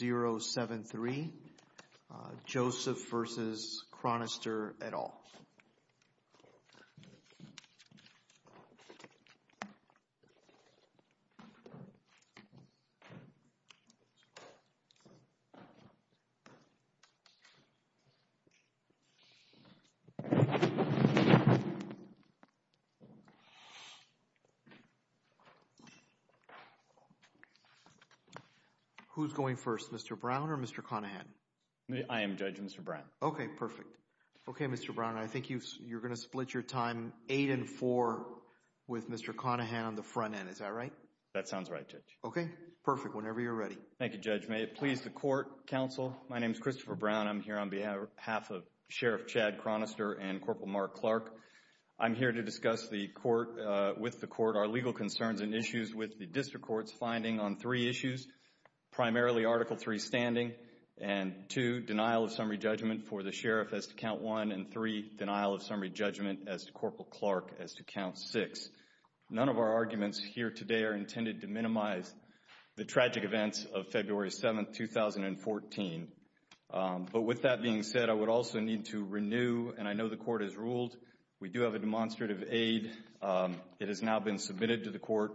v. Chronister, et al. Who's going first, Mr. Brown or Mr. Conahan? I am judging Mr. Brown. Okay, perfect. Okay, Mr. Brown, I think you're going to split your time eight and four with Mr. Conahan on the front end. Is that right? That sounds right, Judge. Okay, perfect. Whenever you're ready. Thank you, Judge. May it please the Court, Counsel. My name is Christopher Brown. I'm here on behalf of Sheriff Chad Chronister and Corporal Mark Clark. I'm here to discuss with the Court our legal concerns and issues with the District Court's finding on three issues, primarily Article III standing and two, denial of summary judgment for the Sheriff as to Count 1 and three, denial of summary judgment as to Corporal Clark as to Count 6. None of our arguments here today are intended to minimize the tragic events of February 7, 2014. But with that being said, I would also need to renew, and I know the Court has ruled, we do have a demonstrative aid. It has now been submitted to the Court.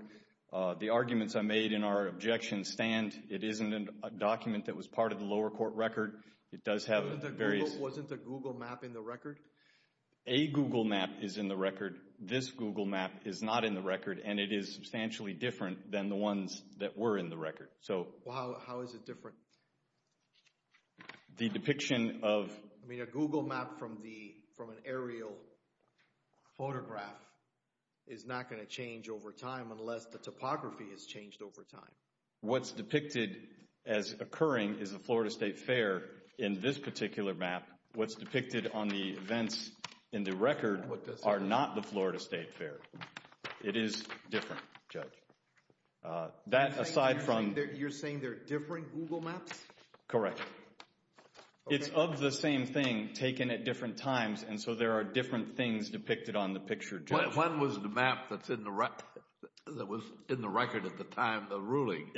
The arguments I made in our objection stand. It isn't a document that was part of the lower court record. It does have various... Wasn't a Google map in the record? A Google map is in the record. This Google map is not in the record, and it is substantially different than the ones that were in the record. So... Well, how is it different? The depiction of... I mean, a Google map from an aerial photograph is not going to change over time unless the topography has changed over time. What's depicted as occurring is the Florida State Fair in this particular map. What's depicted on the events in the record are not the Florida State Fair. It is different, Judge. That aside from... You're saying they're different Google maps? Correct. It's of the same thing taken at different times, and so there are different things depicted on the picture, Judge. When was the map that was in the record at the time, the ruling,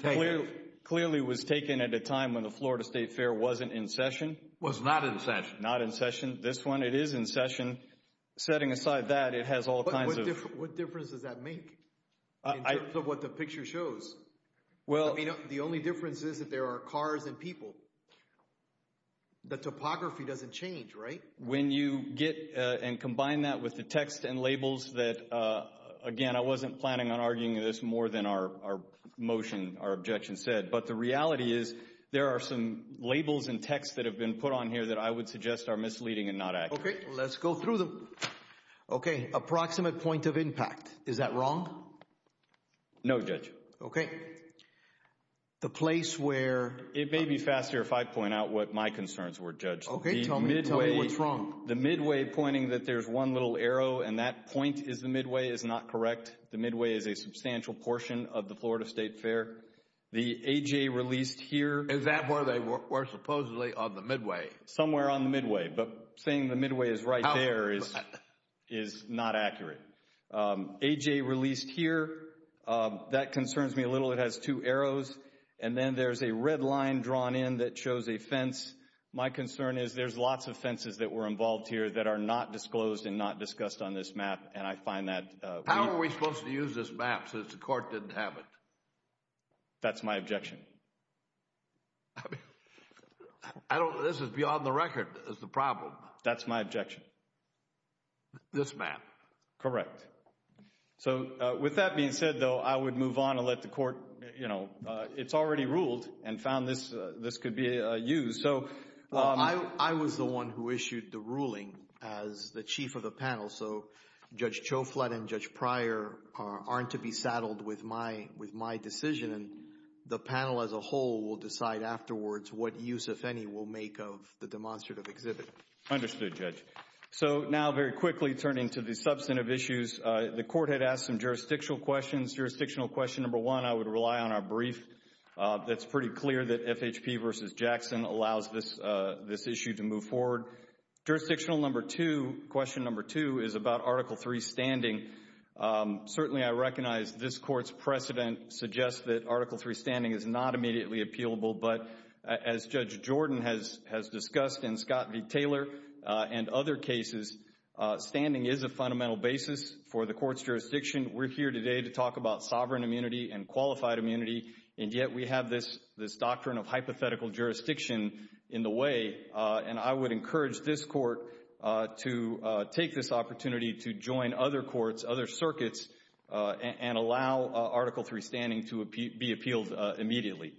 taken? Clearly was taken at a time when the Florida State Fair wasn't in session. Was not in session. Not in session. This one, it is in session. Setting aside that, it has all kinds of... What difference does that make in terms of what the picture shows? Well... I mean, the only difference is that there are cars and people. The topography doesn't change, right? When you get and combine that with the text and labels that, again, I wasn't planning on arguing this more than our motion, our objection said, but the reality is there are some labels and texts that have been put on here that I would suggest are misleading and not accurate. Okay. Let's go through them. Okay. Approximate point of impact. Is that wrong? No, Judge. Okay. The place where... It may be faster if I point out what my concerns were, Judge. Okay. Tell me what's wrong. The midway pointing that there's one little arrow and that point is the midway is not correct. The midway is a substantial portion of the Florida State Fair. The A.J. released here... Is that where they were supposedly on the midway? Somewhere on the midway. But saying the midway is right there is not accurate. A.J. released here. That concerns me a little. It has two arrows. And then there's a red line drawn in that shows a fence. My concern is there's lots of fences that were involved here that are not disclosed and not discussed on this map. And I find that... How are we supposed to use this map since the court didn't have it? That's my objection. I don't... This is beyond the record is the problem. That's my objection. This map. Correct. So, with that being said, though, I would move on and let the court... It's already ruled and found this could be used. I was the one who issued the ruling as the chief of the panel. So Judge Choflat and Judge Pryor aren't to be saddled with my decision. The panel as a whole will decide afterwards what use, if any, we'll make of the demonstrative exhibit. Understood, Judge. So, now, very quickly, turning to the substantive issues. The court had asked some jurisdictional questions. Jurisdictional question number one, I would rely on our brief. That's pretty clear that FHP versus Jackson allows this issue to move forward. Jurisdictional number two, question number two, is about Article III standing. Certainly, I recognize this court's precedent suggests that Article III standing is not immediately appealable. But as Judge Jordan has discussed and Scott V. Taylor and other cases, standing is a fundamental basis for the court's jurisdiction. We're here today to talk about sovereign immunity and qualified immunity, and yet we have this doctrine of hypothetical jurisdiction in the way. And I would encourage this court to take this opportunity to join other courts, other circuits, and allow Article III standing to be appealed immediately.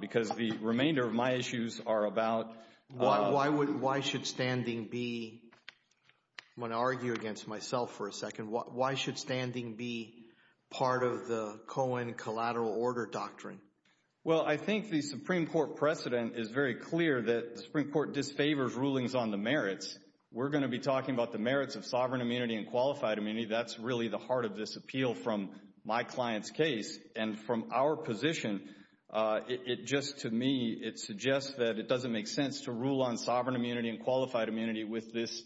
Because the remainder of my issues are about... Why should standing be... I'm going to argue against myself for a second. Why should standing be part of the Cohen collateral order doctrine? Well, I think the Supreme Court precedent is very clear that the Supreme Court disfavors rulings on the merits. We're going to be talking about the merits of sovereign immunity and qualified immunity. That's really the heart of this appeal from my client's case. And from our position, it just, to me, it suggests that it doesn't make sense to rule on sovereign immunity and qualified immunity with this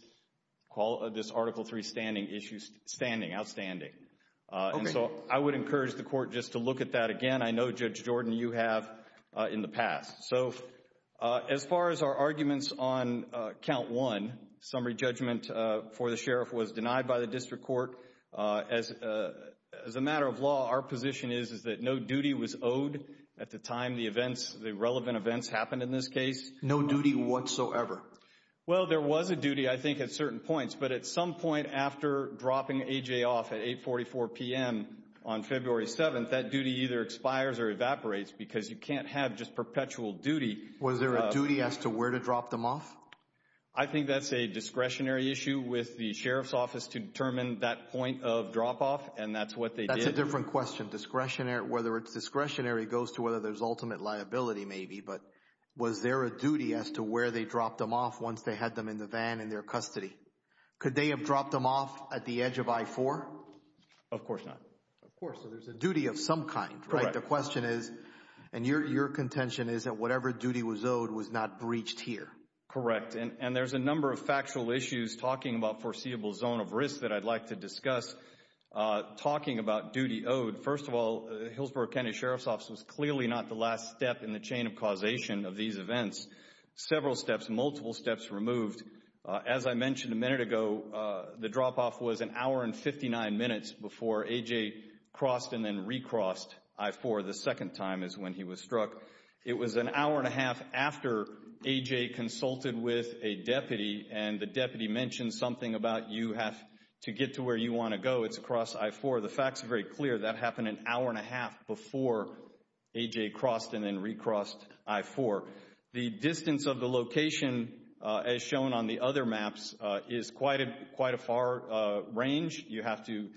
Article III standing outstanding. Okay. And so I would encourage the court just to look at that again. I know, Judge Jordan, you have in the past. So as far as our arguments on count one, summary judgment for the sheriff was denied by the district court, as a matter of law, our position is that no duty was owed at the time the events, the relevant events happened in this case. No duty whatsoever? Well, there was a duty, I think, at certain points. But at some point after dropping A.J. off at 844 p.m. on February 7th, that duty either expires or evaporates because you can't have just perpetual duty. Was there a duty as to where to drop them off? I think that's a discretionary issue with the sheriff's office to determine that point of drop off. And that's what they did. That's a different question. Discretionary. Whether it's discretionary goes to whether there's ultimate liability, maybe. But was there a duty as to where they dropped them off once they had them in the van in their custody? Could they have dropped them off at the edge of I-4? Of course not. Of course. So there's a duty of some kind, right? Correct. The question is, and your contention is that whatever duty was owed was not breached here. Correct. And there's a number of factual issues talking about foreseeable zone of risk that I'd like to discuss. Talking about duty owed, first of all, Hillsborough County Sheriff's Office was clearly not the last step in the chain of causation of these events. Several steps, multiple steps removed. As I mentioned a minute ago, the drop off was an hour and 59 minutes before A.J. crossed and then re-crossed I-4 the second time is when he was struck. It was an hour and a half after A.J. consulted with a deputy and the deputy mentioned something about you have to get to where you want to go, it's across I-4. The facts are very clear. That happened an hour and a half before A.J. crossed and then re-crossed I-4. The distance of the location as shown on the other maps is quite a far range. You have to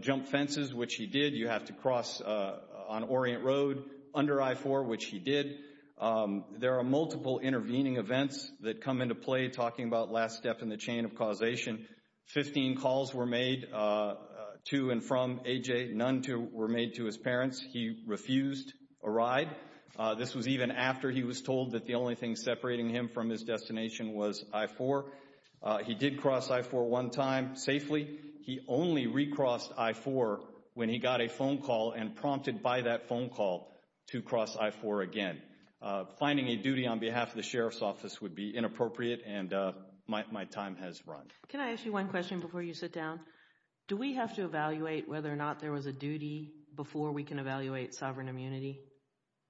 jump fences, which he did. You have to cross on Orient Road under I-4, which he did. There are multiple intervening events that come into play talking about last step in the chain of causation. Fifteen calls were made to and from A.J., none were made to his parents. He refused a ride. This was even after he was told that the only thing separating him from his destination was I-4. He did cross I-4 one time safely. He only re-crossed I-4 when he got a phone call and prompted by that phone call to cross I-4 again. Finding a duty on behalf of the Sheriff's Office would be inappropriate and my time has run. Can I ask you one question before you sit down? Do we have to evaluate whether or not there was a duty before we can evaluate sovereign immunity?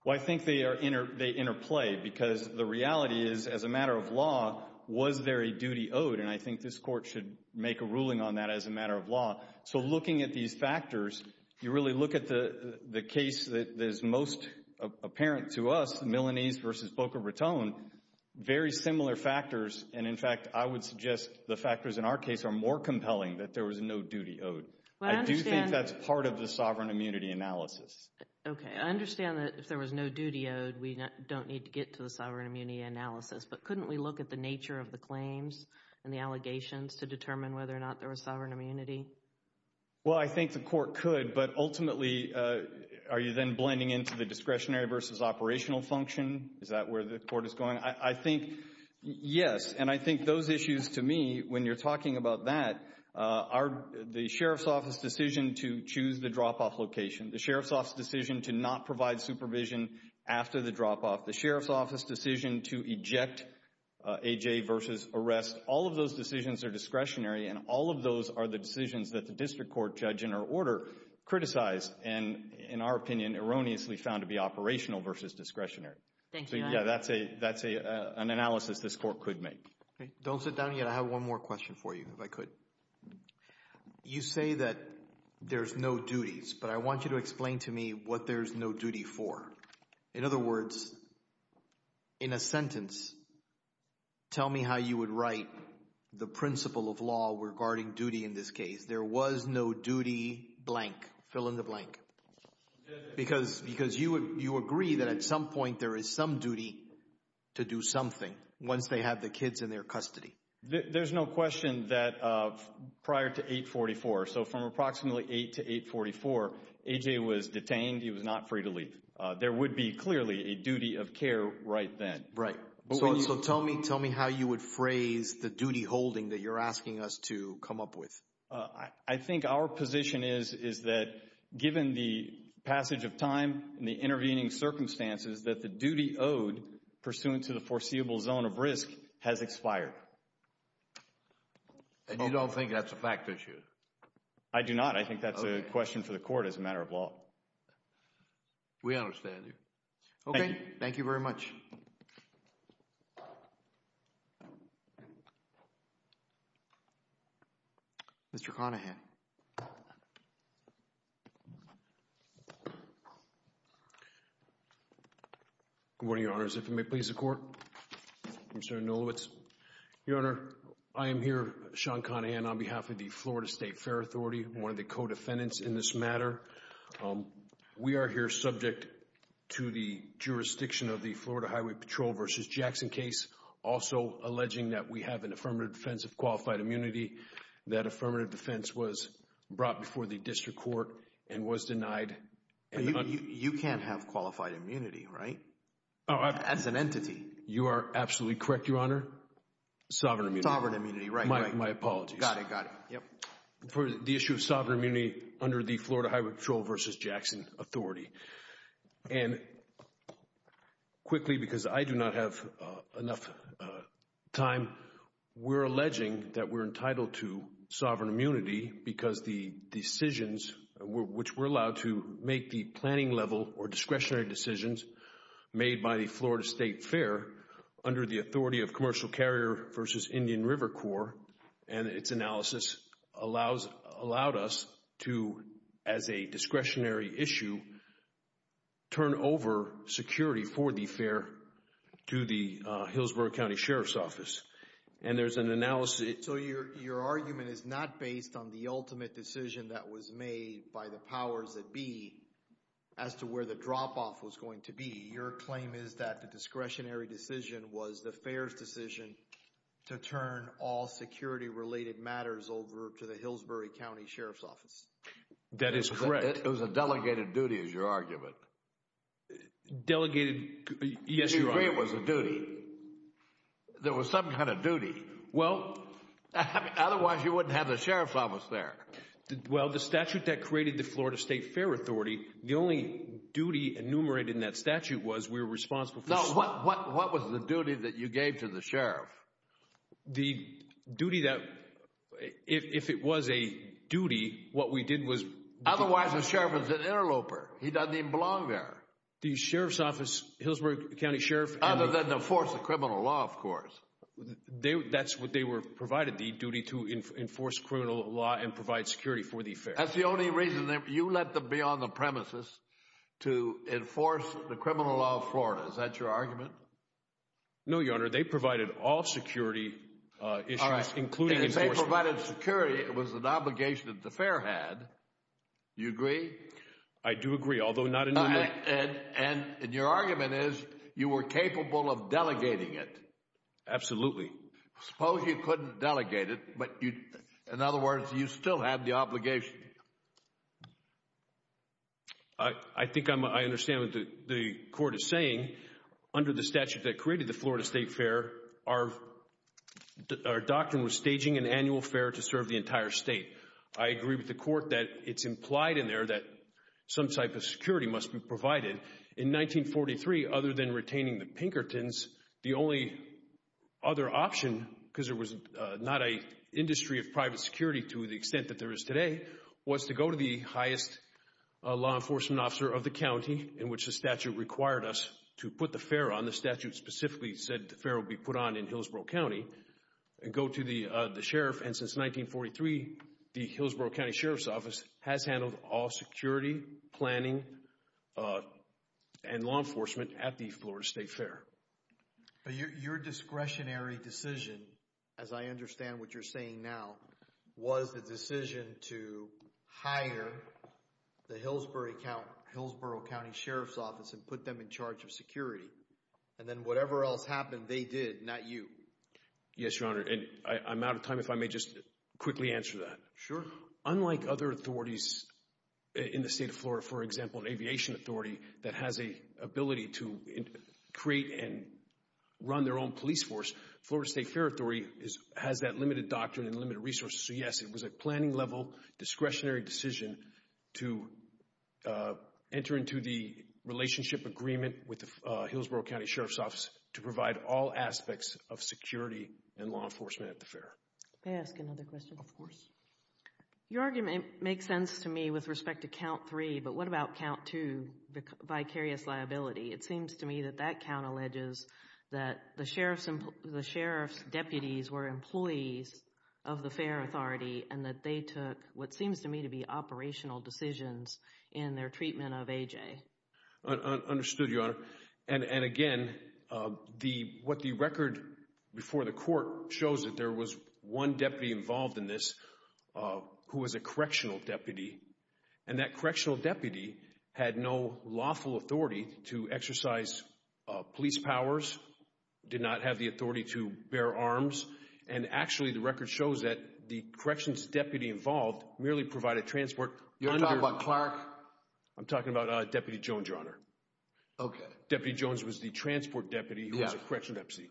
Well, I think they interplay because the reality is, as a matter of law, was there a duty owed? And I think this Court should make a ruling on that as a matter of law. So looking at these factors, you really look at the case that is most apparent to us, Milanese v. Boca Raton, very similar factors and, in fact, I would suggest the factors in our case are more compelling that there was no duty owed. I do think that's part of the sovereign immunity analysis. Okay, I understand that if there was no duty owed, we don't need to get to the sovereign immunity analysis, but couldn't we look at the nature of the claims and the allegations to determine whether or not there was sovereign immunity? Well, I think the Court could, but ultimately, are you then blending into the discretionary v. operational function? Is that where the Court is going? I think, yes, and I think those issues to me, when you're talking about that, are the Sheriff's Office decision to choose the drop-off location, the Sheriff's Office decision to not provide supervision after the drop-off, the Sheriff's Office decision to eject A.J. v. arrest. All of those decisions are discretionary and all of those are the decisions that the District Court judge in her order criticized and, in our opinion, erroneously found to be operational v. discretionary. Thank you. So, yeah, that's an analysis this Court could make. Don't sit down yet. I have one more question for you, if I could. You say that there's no duties, but I want you to explain to me what there's no duty for. In other words, in a sentence, tell me how you would write the principle of law regarding duty in this case. There was no duty blank, fill in the blank, because you agree that at some point there is some duty to do something once they have the kids in their custody. There's no question that prior to 844, so from approximately 8 to 844, A.J. was detained. He was not free to leave. There would be, clearly, a duty of care right then. Right. So tell me how you would phrase the duty holding that you're asking us to come up with. I think our position is that given the passage of time and the intervening circumstances that the duty owed pursuant to the foreseeable zone of risk has expired. And you don't think that's a fact issue? I do not. I think that's a question for the Court as a matter of law. We understand you. Thank you. Okay. Thank you very much. Mr. Conahan. Good morning, Your Honors. If you may, please, the Court. Mr. Nolowitz. Your Honor, I am here, Sean Conahan, on behalf of the Florida State Fair Authority, one of the co-defendants in this matter. We are here subject to the jurisdiction of the Florida Highway Patrol v. Jackson case, also alleging that we have an affirmative defense of qualified immunity. That affirmative defense was brought before the District Court and was denied. You can't have qualified immunity, right? As an entity. You are absolutely correct, Your Honor. Sovereign immunity. Sovereign immunity. Right, right. My apologies. Got it. Got it. For the issue of sovereign immunity under the Florida Highway Patrol v. Jackson authority. And quickly, because I do not have enough time, we're alleging that we're entitled to sovereign immunity because the decisions, which we're allowed to make the planning level or discretionary decisions made by the Florida State Fair under the authority of Commercial turn over security for the fair to the Hillsborough County Sheriff's Office. And there's an analysis. So your argument is not based on the ultimate decision that was made by the powers that be as to where the drop-off was going to be. Your claim is that the discretionary decision was the fair's decision to turn all security-related matters over to the Hillsborough County Sheriff's Office. That is correct. It was a delegated duty, is your argument. Delegated. Yes, Your Honor. You agree it was a duty. There was some kind of duty. Well. Otherwise, you wouldn't have the Sheriff's Office there. Well, the statute that created the Florida State Fair authority, the only duty enumerated in that statute was we were responsible for. Now, what was the duty that you gave to the Sheriff? The duty that, if it was a duty, what we did was. Otherwise, the Sheriff is an interloper. He doesn't even belong there. The Sheriff's Office, Hillsborough County Sheriff. Other than to enforce the criminal law, of course. That's what they were provided, the duty to enforce criminal law and provide security for the fair. That's the only reason you let them be on the premises to enforce the criminal law of Florida. Is that your argument? No, Your Honor. They provided all security issues, including enforcement. They provided security. It was an obligation that the fair had. You agree? I do agree. Although, not in. And your argument is you were capable of delegating it. Absolutely. Suppose you couldn't delegate it, but in other words, you still had the obligation. I think I understand what the court is saying. Under the statute that created the Florida State Fair, our doctrine was staging an annual fair to serve the entire state. I agree with the court that it's implied in there that some type of security must be provided. In 1943, other than retaining the Pinkertons, the only other option, because there was not an industry of private security to the extent that there is today, was to go to the highest law enforcement officer of the county, in which the statute required us to put the fair on. The statute specifically said the fair would be put on in Hillsborough County. And go to the sheriff. And since 1943, the Hillsborough County Sheriff's Office has handled all security, planning, and law enforcement at the Florida State Fair. Your discretionary decision, as I understand what you're saying now, was the decision to hire the Hillsborough County Sheriff's Office and put them in charge of security. And then whatever else happened, they did, not you. Yes, Your Honor. And I'm out of time, if I may just quickly answer that. Sure. Unlike other authorities in the state of Florida, for example, an aviation authority that has an ability to create and run their own police force, Florida State Fair has that limited doctrine and limited resources. So yes, it was a planning level, discretionary decision to enter into the relationship agreement with the Hillsborough County Sheriff's Office to provide all aspects of security and law enforcement at the fair. May I ask another question? Of course. Your argument makes sense to me with respect to Count 3, but what about Count 2, vicarious liability? It seems to me that that count alleges that the sheriff's deputies were employees of the fair authority and that they took what seems to me to be operational decisions in their treatment of A.J. Clark. Understood, Your Honor. And again, what the record before the court shows that there was one deputy involved in this who was a correctional deputy, and that correctional deputy had no lawful authority to exercise police powers, did not have the authority to bear arms. And actually, the record shows that the corrections deputy involved merely provided transport under... You're talking about Clark? I'm talking about Deputy Jones, Your Honor. Okay. Deputy Jones was the transport deputy who was a correctional deputy,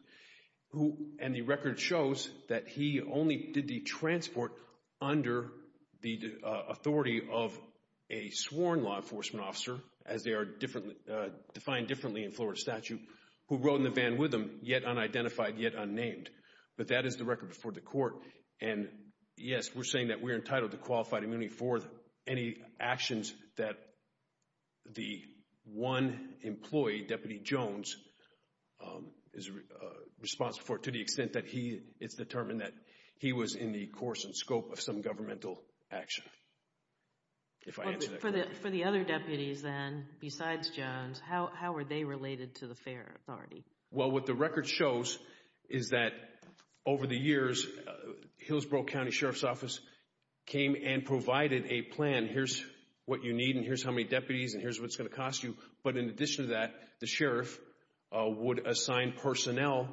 and the record shows that he only did the transport under the authority of a sworn law enforcement officer, as they are defined differently in Florida statute, who rode in the van with him, yet unidentified, yet unnamed. But that is the record before the court, and yes, we're saying that we are entitled to that the one employee, Deputy Jones, is responsible for it to the extent that it's determined that he was in the course and scope of some governmental action, if I answer that correctly. For the other deputies then, besides Jones, how were they related to the fair authority? Well, what the record shows is that over the years, Hillsborough County Sheriff's Office came and provided a plan, here's what you need, and here's how many deputies, and here's what it's going to cost you, but in addition to that, the sheriff would assign personnel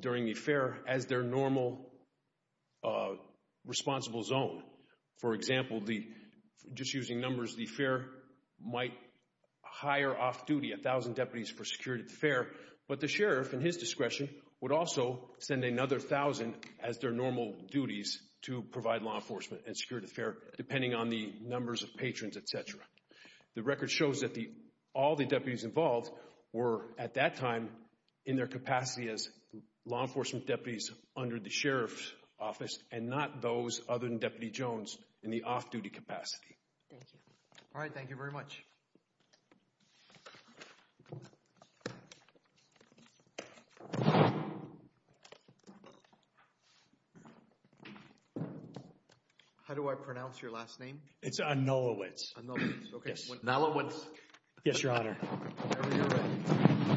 during the fair as their normal responsible zone. For example, just using numbers, the fair might hire off-duty a thousand deputies for security at the fair, but the sheriff, in his discretion, would also send another thousand as their normal duties to provide law enforcement and security at the fair, depending on the numbers of patrons, etc. The record shows that all the deputies involved were, at that time, in their capacity as law enforcement deputies under the sheriff's office, and not those other than Deputy Jones in the off-duty capacity. Thank you. All right, thank you very much. How do I pronounce your last name? It's Anulowicz. Anulowicz, okay. Yes. Anulowicz. Yes, Your Honor.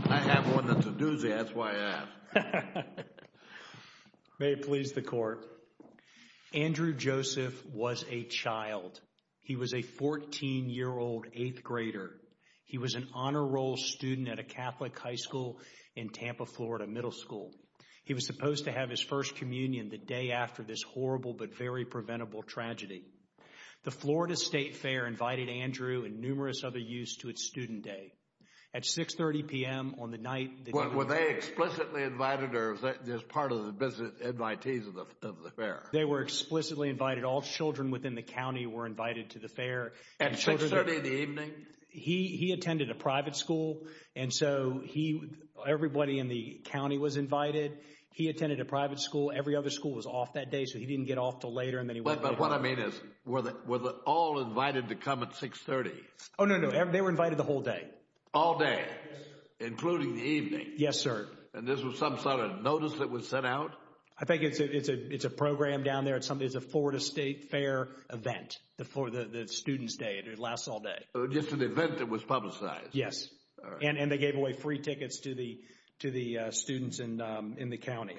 I have one that's a doozy, that's why I asked. May it please the Court. Andrew Joseph was a child. He was a 14-year-old eighth grader. He was an honor roll student at a Catholic high school in Tampa, Florida, middle school. He was supposed to have his first communion the day after this horrible but very preventable tragedy. The Florida State Fair invited Andrew and numerous other youths to its student day. At 6.30 p.m. on the night that he was invited… Were they explicitly invited, or was that just part of the visit of the fair? They were explicitly invited. All children within the county were invited to the fair. At 6.30 in the evening? He attended a private school, and so everybody in the county was invited. He attended a private school. Every other school was off that day, so he didn't get off until later, and then he went back home. But what I mean is, were they all invited to come at 6.30? Oh, no, no. They were invited the whole day. All day, including the evening? Yes, sir. And this was some sort of notice that was sent out? I think it's a program down there. It's a Florida State Fair event, the student's day, and it lasts all day. So just an event that was publicized? Yes, and they gave away free tickets to the students in the county.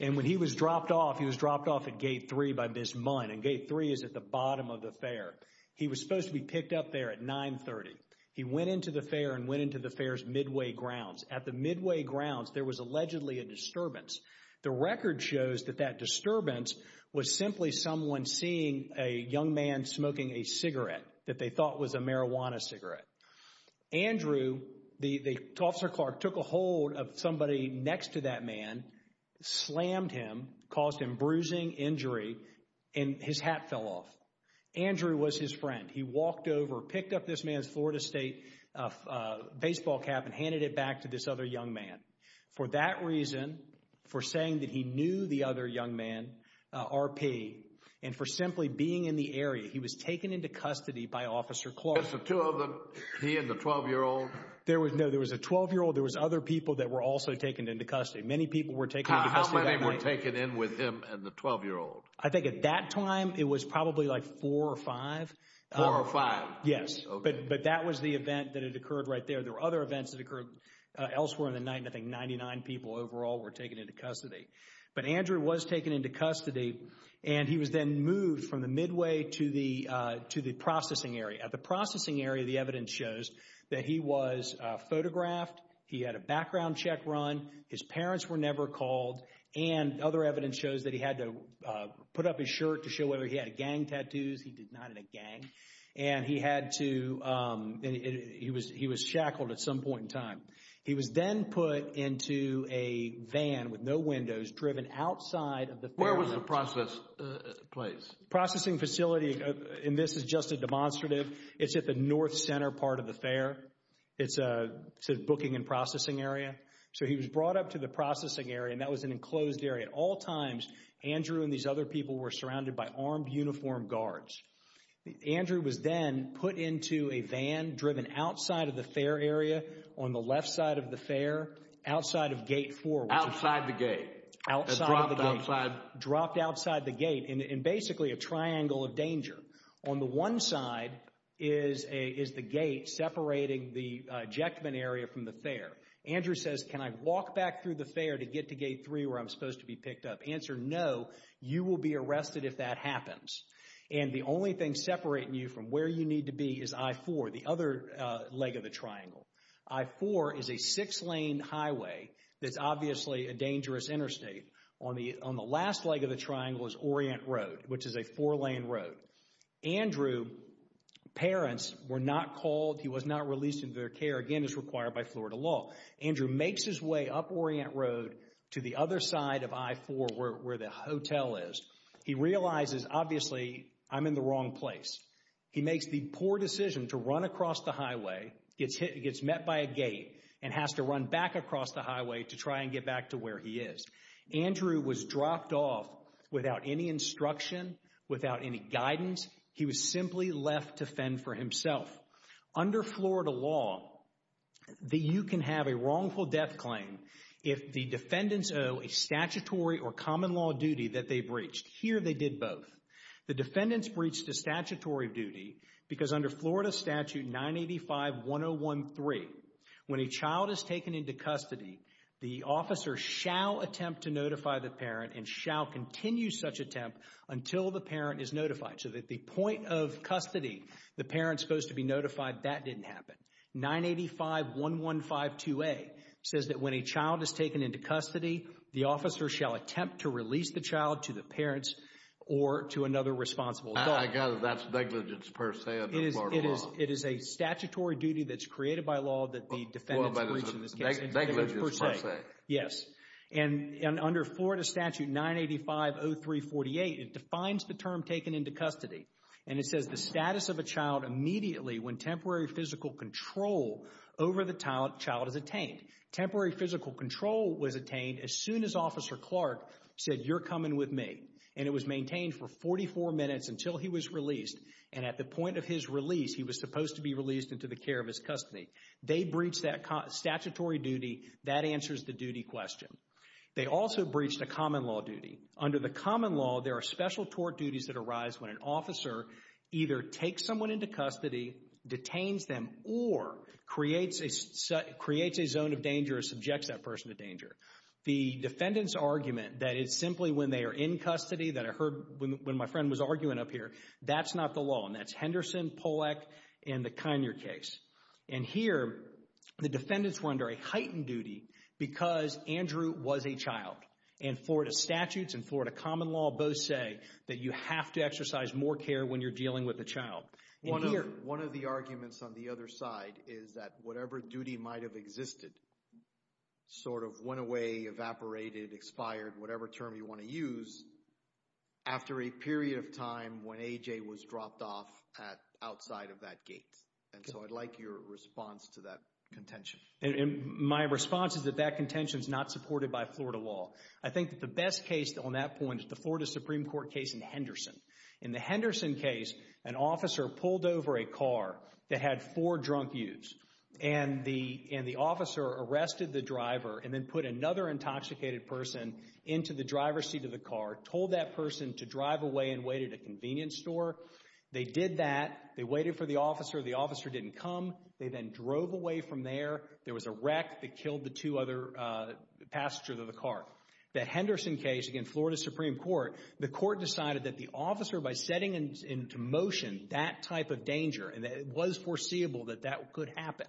And when he was dropped off, he was dropped off at Gate 3 by Ms. Munn, and Gate 3 is at the bottom of the fair. He was supposed to be picked up there at 9.30. He went into the fair and went into the fair's midway grounds. At the midway grounds, there was allegedly a disturbance. The record shows that that disturbance was simply someone seeing a young man smoking a cigarette that they thought was a marijuana cigarette. Andrew, the Officer Clark, took a hold of somebody next to that man, slammed him, caused him bruising, injury, and his hat fell off. Andrew was his friend. He walked over, picked up this man's Florida State baseball cap and handed it back to this other young man. For that reason, for saying that he knew the other young man, RP, and for simply being in the area, he was taken into custody by Officer Clark. Just the two of them? He and the 12-year-old? No, there was a 12-year-old. There was other people that were also taken into custody. Many people were taken into custody that night. How many were taken in with him and the 12-year-old? I think at that time, it was probably like four or five. Four or five? Yes, but that was the event that had occurred right there. There were other events that occurred elsewhere in the night, and I think 99 people overall were taken into custody. But Andrew was taken into custody, and he was then moved from the Midway to the processing area. At the processing area, the evidence shows that he was photographed. He had a background check run. His parents were never called, and other evidence shows that he had to put up his shirt to show whether he had gang tattoos. He did not have a gang, and he was shackled at some point in time. He was then put into a van with no windows, driven outside of the fair. Where was the process place? Processing facility, and this is just a demonstrative, it's at the north center part of the fair. It's a booking and processing area. So he was brought up to the processing area, and that was an enclosed area. At all times, Andrew and these other people were surrounded by armed uniformed guards. Andrew was then put into a van, driven outside of the fair area, on the left side of the fair, outside of gate four. Outside the gate. Outside of the gate. Dropped outside. Dropped outside the gate in basically a triangle of danger. On the one side is the gate separating the ejectment area from the fair. Andrew says, can I walk back through the fair to get to gate three where I'm supposed to be picked up? Answer, no. You will be arrested if that happens. And the only thing separating you from where you need to be is I-4, the other leg of the triangle. I-4 is a six lane highway that's obviously a dangerous interstate. On the last leg of the triangle is Orient Road, which is a four lane road. Andrew's parents were not called. He was not released into their care, again as required by Florida law. Andrew makes his way up Orient Road to the other side of I-4 where the hotel is. He realizes, obviously, I'm in the wrong place. He makes the poor decision to run across the highway, gets hit, gets met by a gate and has to run back across the highway to try and get back to where he is. Andrew was dropped off without any instruction, without any guidance. He was simply left to fend for himself. Under Florida law, you can have a wrongful death claim if the defendants owe a statutory or common law duty that they breached. Here they did both. The defendants breached a statutory duty because under Florida Statute 985-1013, when a child is taken into custody, the officer shall attempt to notify the parent and shall continue such attempt until the parent is notified. So at the point of custody, the parent's supposed to be notified. That didn't happen. 985-1152A says that when a child is taken into custody, the officer shall attempt to release the child to the parents or to another responsible adult. I gather that's negligence per se under Florida law. It is a statutory duty that's created by law that the defendants breach in this case. Negligence per se. Yes. And under Florida Statute 985-0348, it defines the term taken into custody and it says the over the child is attained. Temporary physical control was attained as soon as Officer Clark said, you're coming with me. And it was maintained for 44 minutes until he was released. And at the point of his release, he was supposed to be released into the care of his custody. They breached that statutory duty. That answers the duty question. They also breached a common law duty. Under the common law, there are special tort duties that arise when an officer either takes someone into custody, detains them, or creates a zone of danger or subjects that person to danger. The defendant's argument that it's simply when they are in custody, that I heard when my friend was arguing up here, that's not the law. And that's Henderson, Pollack, and the Kinear case. And here, the defendants were under a heightened duty because Andrew was a child. And Florida statutes and Florida common law both say that you have to exercise more care when you're dealing with a child. One of the arguments on the other side is that whatever duty might have existed, sort of went away, evaporated, expired, whatever term you want to use, after a period of time when A.J. was dropped off outside of that gate. And so I'd like your response to that contention. My response is that that contention is not supported by Florida law. I think that the best case on that point is the Florida Supreme Court case in Henderson. In the Henderson case, an officer pulled over a car that had four drunk youths. And the officer arrested the driver and then put another intoxicated person into the driver's seat of the car, told that person to drive away and waited at a convenience store. They did that. They waited for the officer. The officer didn't come. They then drove away from there. There was a wreck that killed the two other passengers of the car. That Henderson case, again, Florida Supreme Court, the court decided that the officer, by setting into motion that type of danger, and it was foreseeable that that could happen,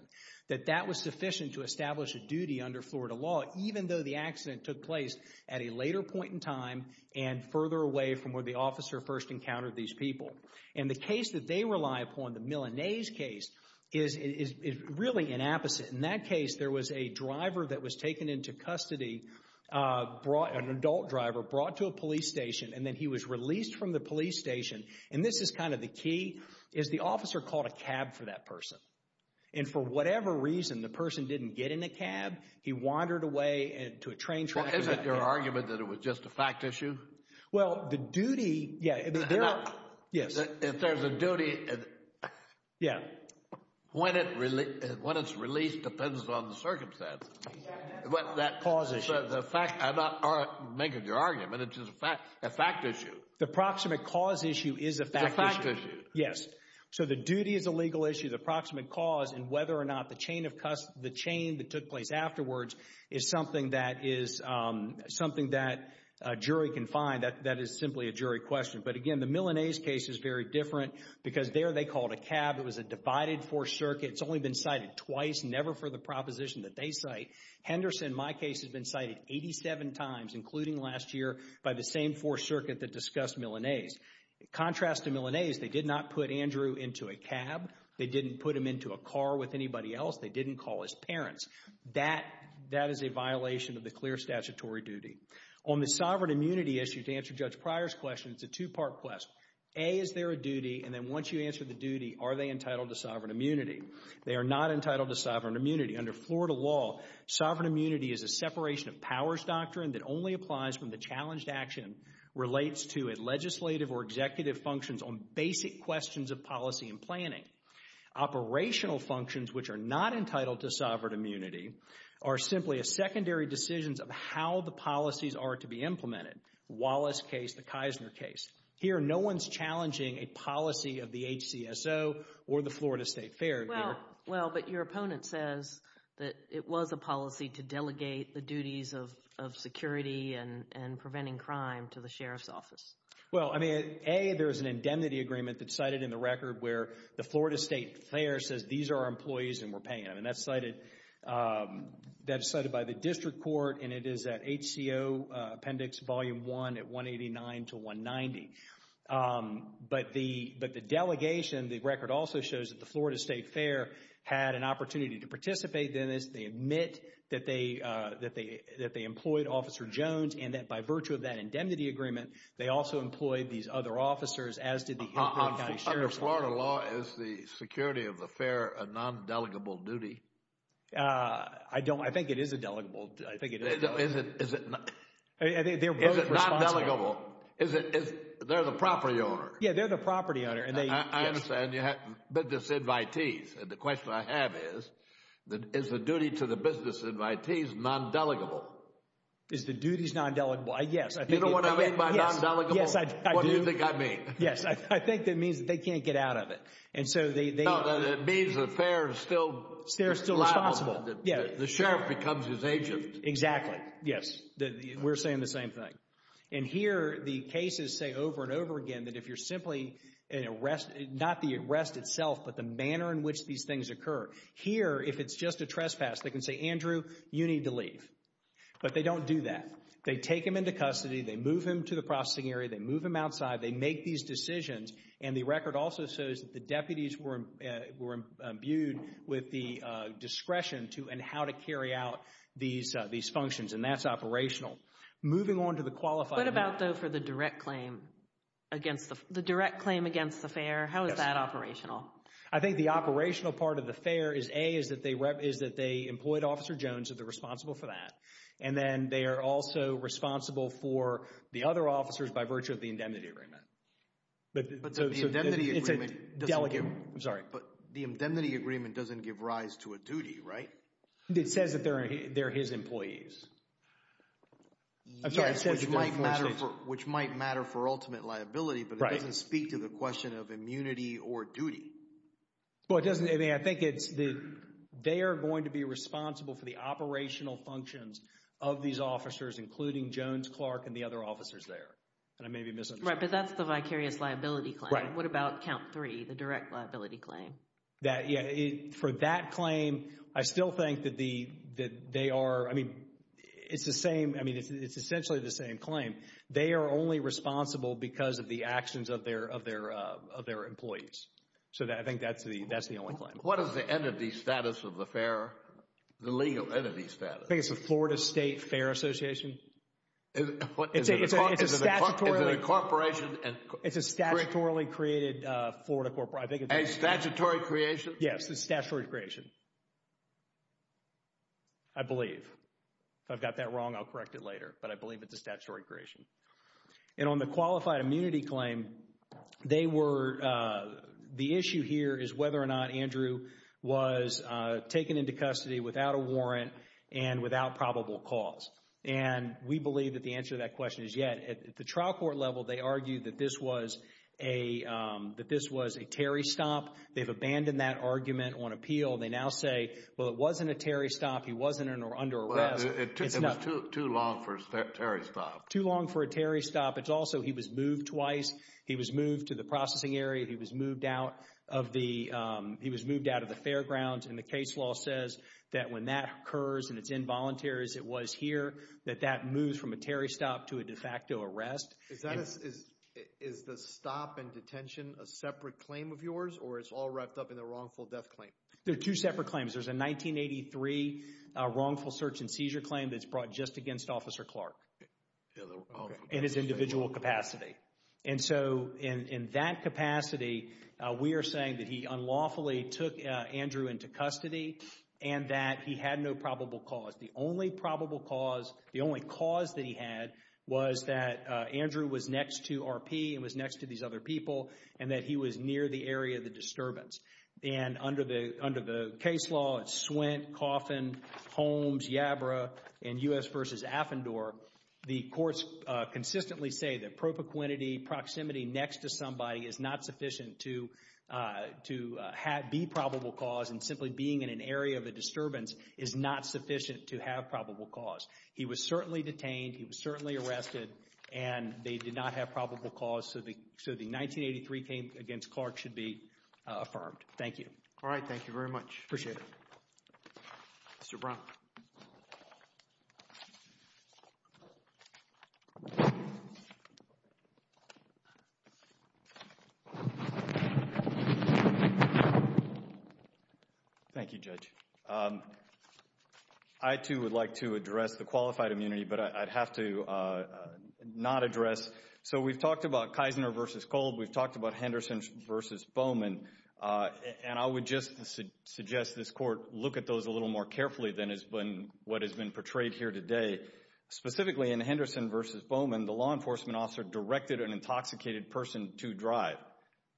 that that was sufficient to establish a duty under Florida law, even though the accident took place at a later point in time and further away from where the officer first encountered these people. And the case that they rely upon, the Milanese case, is really an opposite. In that case, there was a driver that was taken into custody, an adult driver, brought to a police station, and then he was released from the police station. And this is kind of the key, is the officer called a cab for that person. And for whatever reason, the person didn't get in a cab. He wandered away to a train track. Isn't your argument that it was just a fact issue? Well, the duty, yeah. Yes. If there's a duty, when it's released depends on the circumstances. Cause issue. I'm not making your argument, it's just a fact issue. The proximate cause issue is a fact issue. It's a fact issue. Yes. So the duty is a legal issue, the proximate cause, and whether or not the chain that took place afterwards is something that a jury can find, that is simply a jury question. But again, the Milanese case is very different, because there they called a cab, it was a divided Fourth Circuit, it's only been cited twice, never for the proposition that they cite. Henderson, my case, has been cited 87 times, including last year, by the same Fourth Circuit that discussed Milanese. Contrast to Milanese, they did not put Andrew into a cab, they didn't put him into a car with anybody else, they didn't call his parents. That is a violation of the clear statutory duty. On the sovereign immunity issue, to answer Judge Pryor's question, it's a two-part question. A, is there a duty, and then once you answer the duty, are they entitled to sovereign immunity? They are not entitled to sovereign immunity. Under Florida law, sovereign immunity is a separation of powers doctrine that only applies when the challenged action relates to legislative or executive functions on basic questions of policy and planning. Operational functions, which are not entitled to sovereign immunity, are simply a secondary decisions of how the policies are to be implemented. Wallace's case, the Kisner case, here no one's challenging a policy of the HCSO or the Florida State Fair here. Well, but your opponent says that it was a policy to delegate the duties of security and preventing crime to the Sheriff's Office. Well, I mean, A, there's an indemnity agreement that's cited in the record where the Florida State Fair says these are our employees and we're paying them, and that's cited by the District Court, and it is at HCO Appendix Volume 1 at 189 to 190. But the delegation, the record also shows that the Florida State Fair had an opportunity to participate in this. They admit that they employed Officer Jones and that by virtue of that indemnity agreement, they also employed these other officers, as did the Hilton County Sheriff's Office. Under Florida law, is the security of the fair a non-delegable duty? I don't, I think it is a delegable, I think it is. Is it, is it not? I think they're both responsible. Is it non-delegable? Is it, is, they're the property owner? Yeah, they're the property owner, and they, yes. I understand you have business invitees, and the question I have is, is the duty to the business invitees non-delegable? Is the duties non-delegable? Yes, I think it, yes. You know what I mean by non-delegable? Yes, I do. What do you think I mean? Yes, I think that means that they can't get out of it. And so they, they. Well, then it means the fair is still liable. They're still responsible. Yes. The sheriff becomes his agent. Exactly. Yes. We're saying the same thing. And here, the cases say over and over again that if you're simply an arrest, not the arrest itself, but the manner in which these things occur. Here, if it's just a trespass, they can say, Andrew, you need to leave. But they don't do that. They take him into custody, they move him to the processing area, they move him outside, they make these decisions. And the record also shows that the deputies were imbued with the discretion to and how to carry out these functions. And that's operational. Moving on to the qualifying. What about, though, for the direct claim against the, the direct claim against the fair? How is that operational? I think the operational part of the fair is, A, is that they, is that they employed Officer Jones as the responsible for that. And then they are also responsible for the other officers by virtue of the indemnity agreement. But the indemnity agreement doesn't give rise to a duty, right? It says that they're, they're his employees. Yes, which might matter for ultimate liability, but it doesn't speak to the question of immunity or duty. Well, it doesn't. I mean, I think it's the, they are going to be responsible for the operational functions of these officers, including Jones, Clark, and the other officers there. And I may be missing something. Right. But that's the vicarious liability claim. Right. What about count three, the direct liability claim? That, yeah. For that claim, I still think that the, that they are, I mean, it's the same, I mean, it's essentially the same claim. They are only responsible because of the actions of their, of their, of their employees. So that, I think that's the, that's the only claim. What is the entity status of the fair? The legal entity status? I think it's the Florida State Fair Association. Is it, what, is it a, is it a corporation? It's a statutorily created Florida corporation. I think it's a... A statutory creation? Yes. It's a statutory creation. I believe. If I've got that wrong, I'll correct it later. But I believe it's a statutory creation. And on the qualified immunity claim, they were, the issue here is whether or not Andrew was taken into custody without a warrant and without probable cause. And we believe that the answer to that question is yet. At the trial court level, they argue that this was a, that this was a Terry stop. They've abandoned that argument on appeal. They now say, well, it wasn't a Terry stop. He wasn't under arrest. Well, it took, it was too long for a Terry stop. Too long for a Terry stop. It's also, he was moved twice. He was moved to the processing area. He was moved out of the, he was moved out of the fairgrounds. And the case law says that when that occurs and it's involuntary as it was here, that that moves from a Terry stop to a de facto arrest. Is the stop and detention a separate claim of yours or it's all wrapped up in the wrongful death claim? They're two separate claims. There's a 1983 wrongful search and seizure claim that's brought just against Officer Clark in his individual capacity. And so in that capacity, we are saying that he unlawfully took Andrew into custody and that he had no probable cause. The only probable cause, the only cause that he had was that Andrew was next to RP and was next to these other people and that he was near the area of the disturbance. And under the, under the case law, it's Swint, Coffin, Holmes, Yabra, and U.S. v. Affendor, the courts consistently say that propoquinity, proximity next to somebody is not sufficient to, to be probable cause and simply being in an area of a disturbance is not sufficient to have probable cause. He was certainly detained, he was certainly arrested, and they did not have probable cause so the, so the 1983 case against Clark should be affirmed. Thank you. All right. Thank you very much. Appreciate it. Mr. Brown. Thank you, Judge. I, too, would like to address the qualified immunity, but I'd have to not address. So we've talked about Keisner v. Kolb, we've talked about Henderson v. Bowman, and I would just suggest this Court look at those a little more carefully than has been, what has been portrayed here today. Specifically, in Henderson v. Bowman, the law enforcement officer directed an intoxicated person to drive.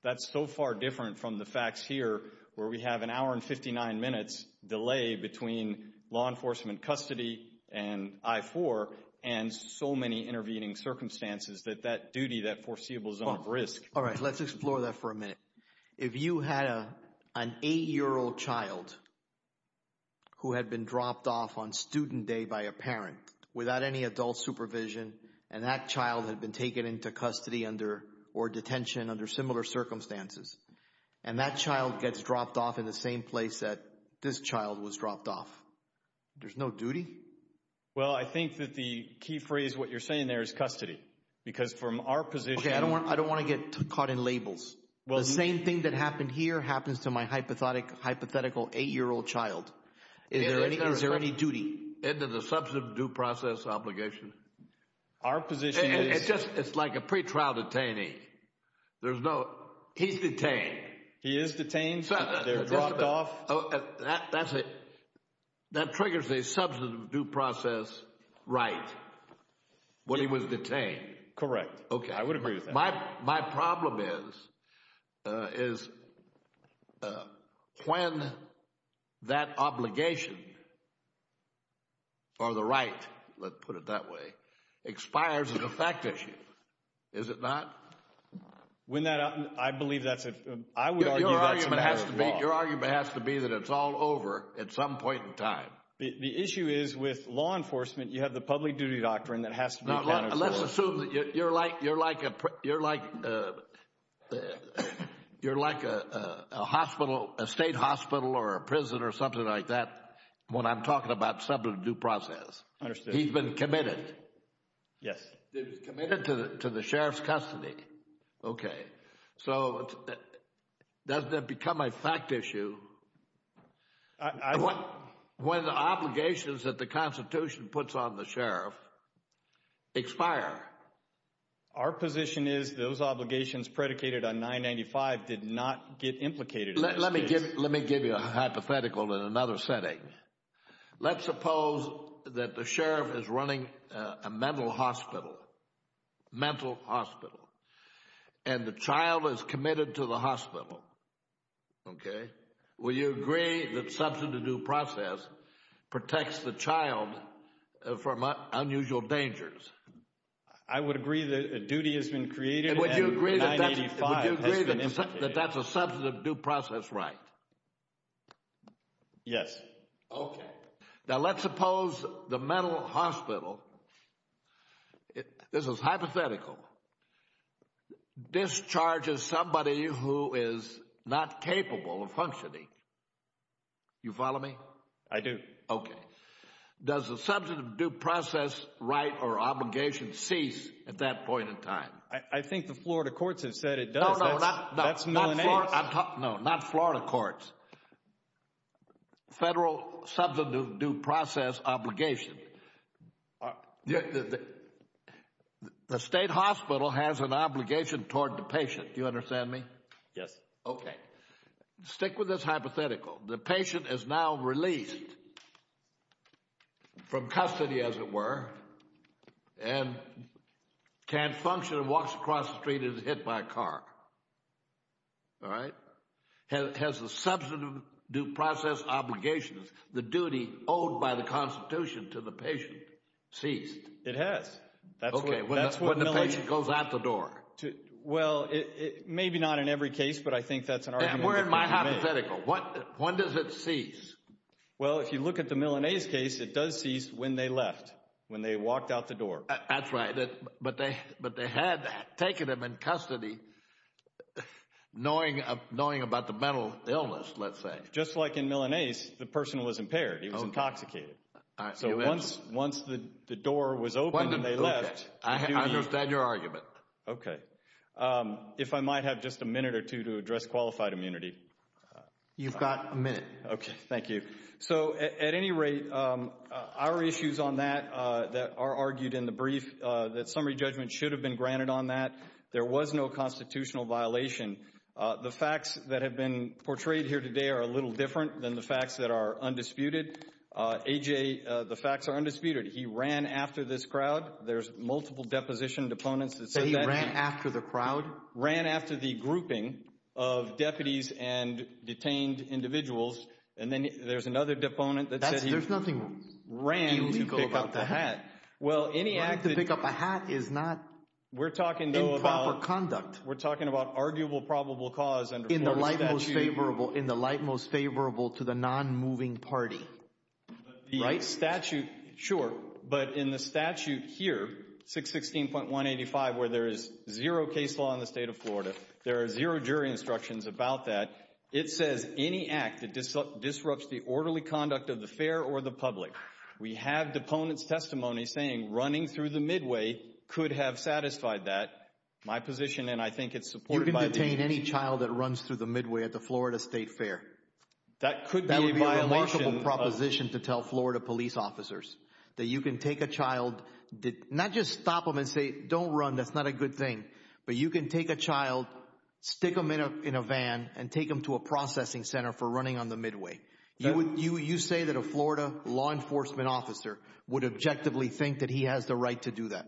That, that's so far different from the facts here where we have an hour and 59 minutes delay between law enforcement custody and I-4 and so many intervening circumstances that that duty, that foreseeable zone of risk. All right. Let's explore that for a minute. If you had an 8-year-old child who had been dropped off on student day by a parent without any adult supervision and that child had been taken into custody under, or detention under similar circumstances, and that child gets dropped off in the same place that this child was dropped off, there's no duty? Well, I think that the key phrase, what you're saying there, is custody. Because from our position... Okay, I don't want to get caught in labels. The same thing that happened here happens to my hypothetical 8-year-old child. Is there any duty? It is a substantive due process obligation. Our position is... It's just, it's like a pretrial detainee. There's no... He's detained. He is detained. They're dropped off. That's a, that triggers a substantive due process right when he was detained. Correct. Okay. I would agree with that. My problem is, is when that obligation or the right, let's put it that way, expires as a fact issue, is it not? When that... I believe that's a... I would argue that's a matter of law. Your argument has to be that it's all over at some point in time. The issue is, with law enforcement, you have the public duty doctrine that has to be counted for. Now, let's assume that you're like a hospital, a state hospital or a prison or something like that when I'm talking about substantive due process. Understood. He's been committed. Yes. He's been committed to the sheriff's custody. Okay. So, doesn't that become a fact issue when the obligations that the Constitution puts on the sheriff expire? Our position is those obligations predicated on 995 did not get implicated in this case. Let me give you a hypothetical in another setting. Let's suppose that the sheriff is running a mental hospital, mental hospital, and the child is committed to the hospital. Okay. Will you agree that substantive due process protects the child from unusual dangers? I would agree that a duty has been created and 985 has been implicated. Would you agree that that's a substantive due process right? Yes. Okay. Now, let's suppose the mental hospital, this is hypothetical, discharges somebody who is not capable of functioning. You follow me? I do. Okay. Does the substantive due process right or obligation cease at that point in time? I think the Florida courts have said it does. No, no, no. That's Millennials. No, not Florida courts. Federal substantive due process obligation. The state hospital has an obligation toward the patient. Do you understand me? Yes. Okay. Stick with this hypothetical. The patient is now released from custody as it were and can't function and walks across the street and is hit by a car, all right? Has the substantive due process obligation, the duty owed by the Constitution to the patient ceased? It has. Okay. When the patient goes out the door? Well, maybe not in every case, but I think that's an argument that can be made. And where is my hypothetical? When does it cease? Well, if you look at the Millennials case, it does cease when they left, when they walked out the door. That's right. But they had taken them in custody knowing about the mental illness, let's say. Just like in Milanese, the person was impaired. He was intoxicated. So once the door was opened and they left, the duty... I understand your argument. Okay. If I might have just a minute or two to address qualified immunity. You've got a minute. Okay. Thank you. So at any rate, our issues on that, that are argued in the brief, that summary judgment should have been granted on that. There was no constitutional violation. The facts that have been portrayed here today are a little different than the facts that are undisputed. A.J., the facts are undisputed. He ran after this crowd. There's multiple depositioned opponents that said that. So he ran after the crowd? Ran after the grouping of deputies and detained individuals. And then there's another deponent that said he ran to pick up the hat. Well any act... Running to pick up a hat is not improper conduct. We're talking about arguable probable cause under Florida statute. In the light most favorable to the non-moving party. Right? The statute, sure. But in the statute here, 616.185, where there is zero case law in the state of Florida, there are zero jury instructions about that. It says, any act that disrupts the orderly conduct of the fair or the public. We have deponent's testimony saying running through the midway could have satisfied that. My position, and I think it's supported by the... You can detain any child that runs through the midway at the Florida State Fair. That could be a violation of... That would be a remarkable proposition to tell Florida police officers, that you can take a child, not just stop them and say, don't run, that's not a good thing, but you can take a child, stick them in a van, and take them to a processing center for running on the midway. You say that a Florida law enforcement officer would objectively think that he has the right to do that.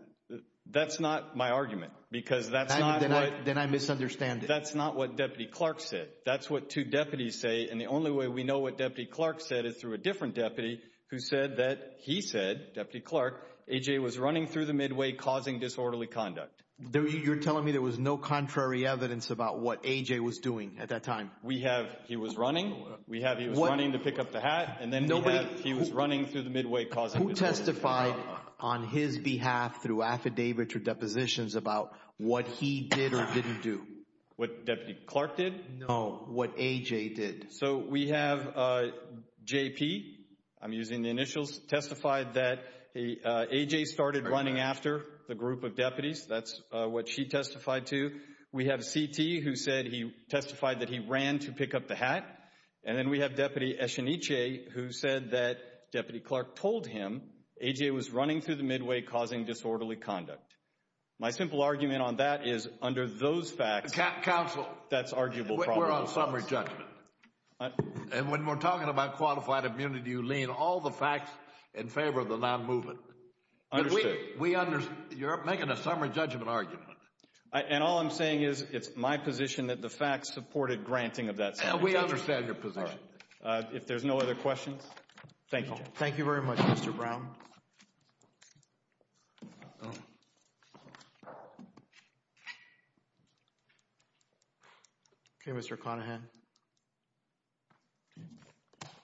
That's not my argument. Because that's not what... Then I misunderstand it. That's not what Deputy Clark said. That's what two deputies say, and the only way we know what Deputy Clark said is through a different deputy who said that he said, Deputy Clark, AJ was running through the midway causing disorderly conduct. You're telling me there was no contrary evidence about what AJ was doing at that time? We have, he was running. We have, he was running to pick up the hat, and then he was running through the midway causing disorderly conduct. Who testified on his behalf through affidavit or depositions about what he did or didn't do? What Deputy Clark did? No, what AJ did. So we have JP, I'm using the initials, testified that AJ started running after the group of what she testified to. We have CT who said he testified that he ran to pick up the hat. And then we have Deputy Escheniche who said that Deputy Clark told him AJ was running through the midway causing disorderly conduct. My simple argument on that is, under those facts, that's arguable problems. Counsel, we're on summary judgment. And when we're talking about qualified immunity, you lean all the facts in favor of the non-movement. Understood. We understand. You're making a summary judgment argument. And all I'm saying is, it's my position that the facts supported granting of that summary judgment. We understand your position. If there's no other questions, thank you. Thank you very much, Mr. Brown. Okay, Mr. Conahan.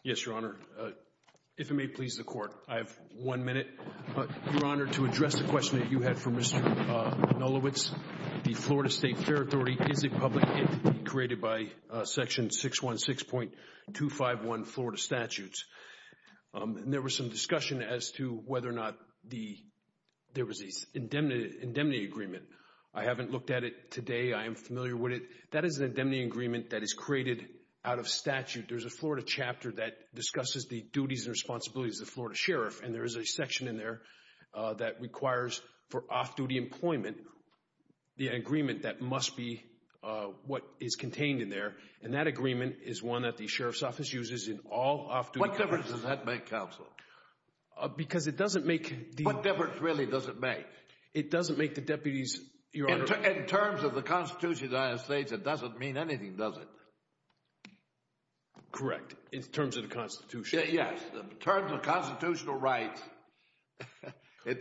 Yes, Your Honor. If it may please the Court, I have one minute. Your Honor, to address the question that you had for Mr. Nulowitz. The Florida State Fair Authority is a public entity created by Section 616.251 Florida Statutes. And there was some discussion as to whether or not there was an indemnity agreement. I haven't looked at it today. I am familiar with it. That is an indemnity agreement that is created out of statute. There's a Florida chapter that discusses the duties and responsibilities of the Florida Sheriff. And there is a section in there that requires, for off-duty employment, the agreement that must be what is contained in there. And that agreement is one that the Sheriff's Office uses in all off-duty employment. What difference does that make, counsel? Because it doesn't make the... What difference really does it make? It doesn't make the deputies, Your Honor... In terms of the Constitution of the United States, it doesn't mean anything, does it? Correct. In terms of the Constitution. Yes. In terms of constitutional rights and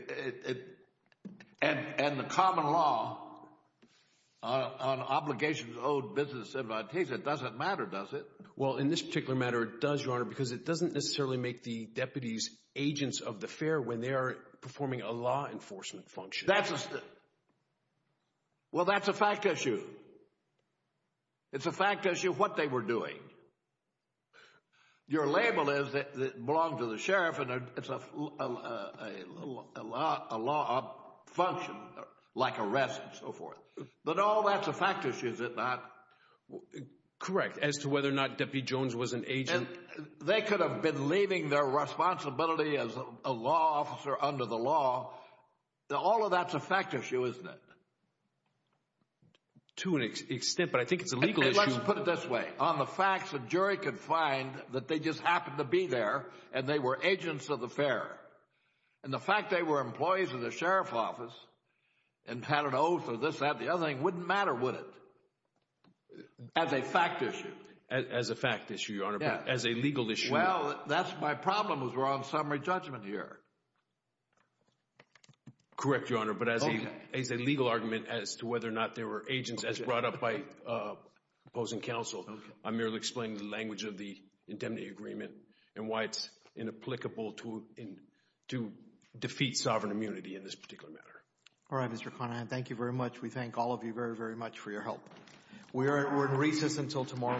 the common law on obligations owed business entities, it doesn't matter, does it? Well, in this particular matter, it does, Your Honor, because it doesn't necessarily make the deputies agents of the fair when they are performing a law enforcement function. That's a... Well, that's a fact issue. It's a fact issue of what they were doing. Your label is that it belonged to the Sheriff and it's a law function, like arrest and so forth. But no, that's a fact issue, is it not? Correct. As to whether or not Deputy Jones was an agent... And they could have been leaving their responsibility as a law officer under the law. All of that's a fact issue, isn't it? To an extent, but I think it's a legal issue... Well, let's put it this way. On the facts, a jury could find that they just happened to be there and they were agents of the fair. And the fact they were employees of the Sheriff's Office and had an oath or this, that, the other thing, wouldn't matter, would it? As a fact issue. As a fact issue, Your Honor, but as a legal issue... Well, that's my problem is we're on summary judgment here. Correct, Your Honor, but as a legal argument as to whether or not they were agents as brought up by opposing counsel, I merely explain the language of the indemnity agreement and why it's inapplicable to defeat sovereign immunity in this particular matter. All right, Mr. Conahan, thank you very much. We thank all of you very, very much for your help. We're in recess until tomorrow morning.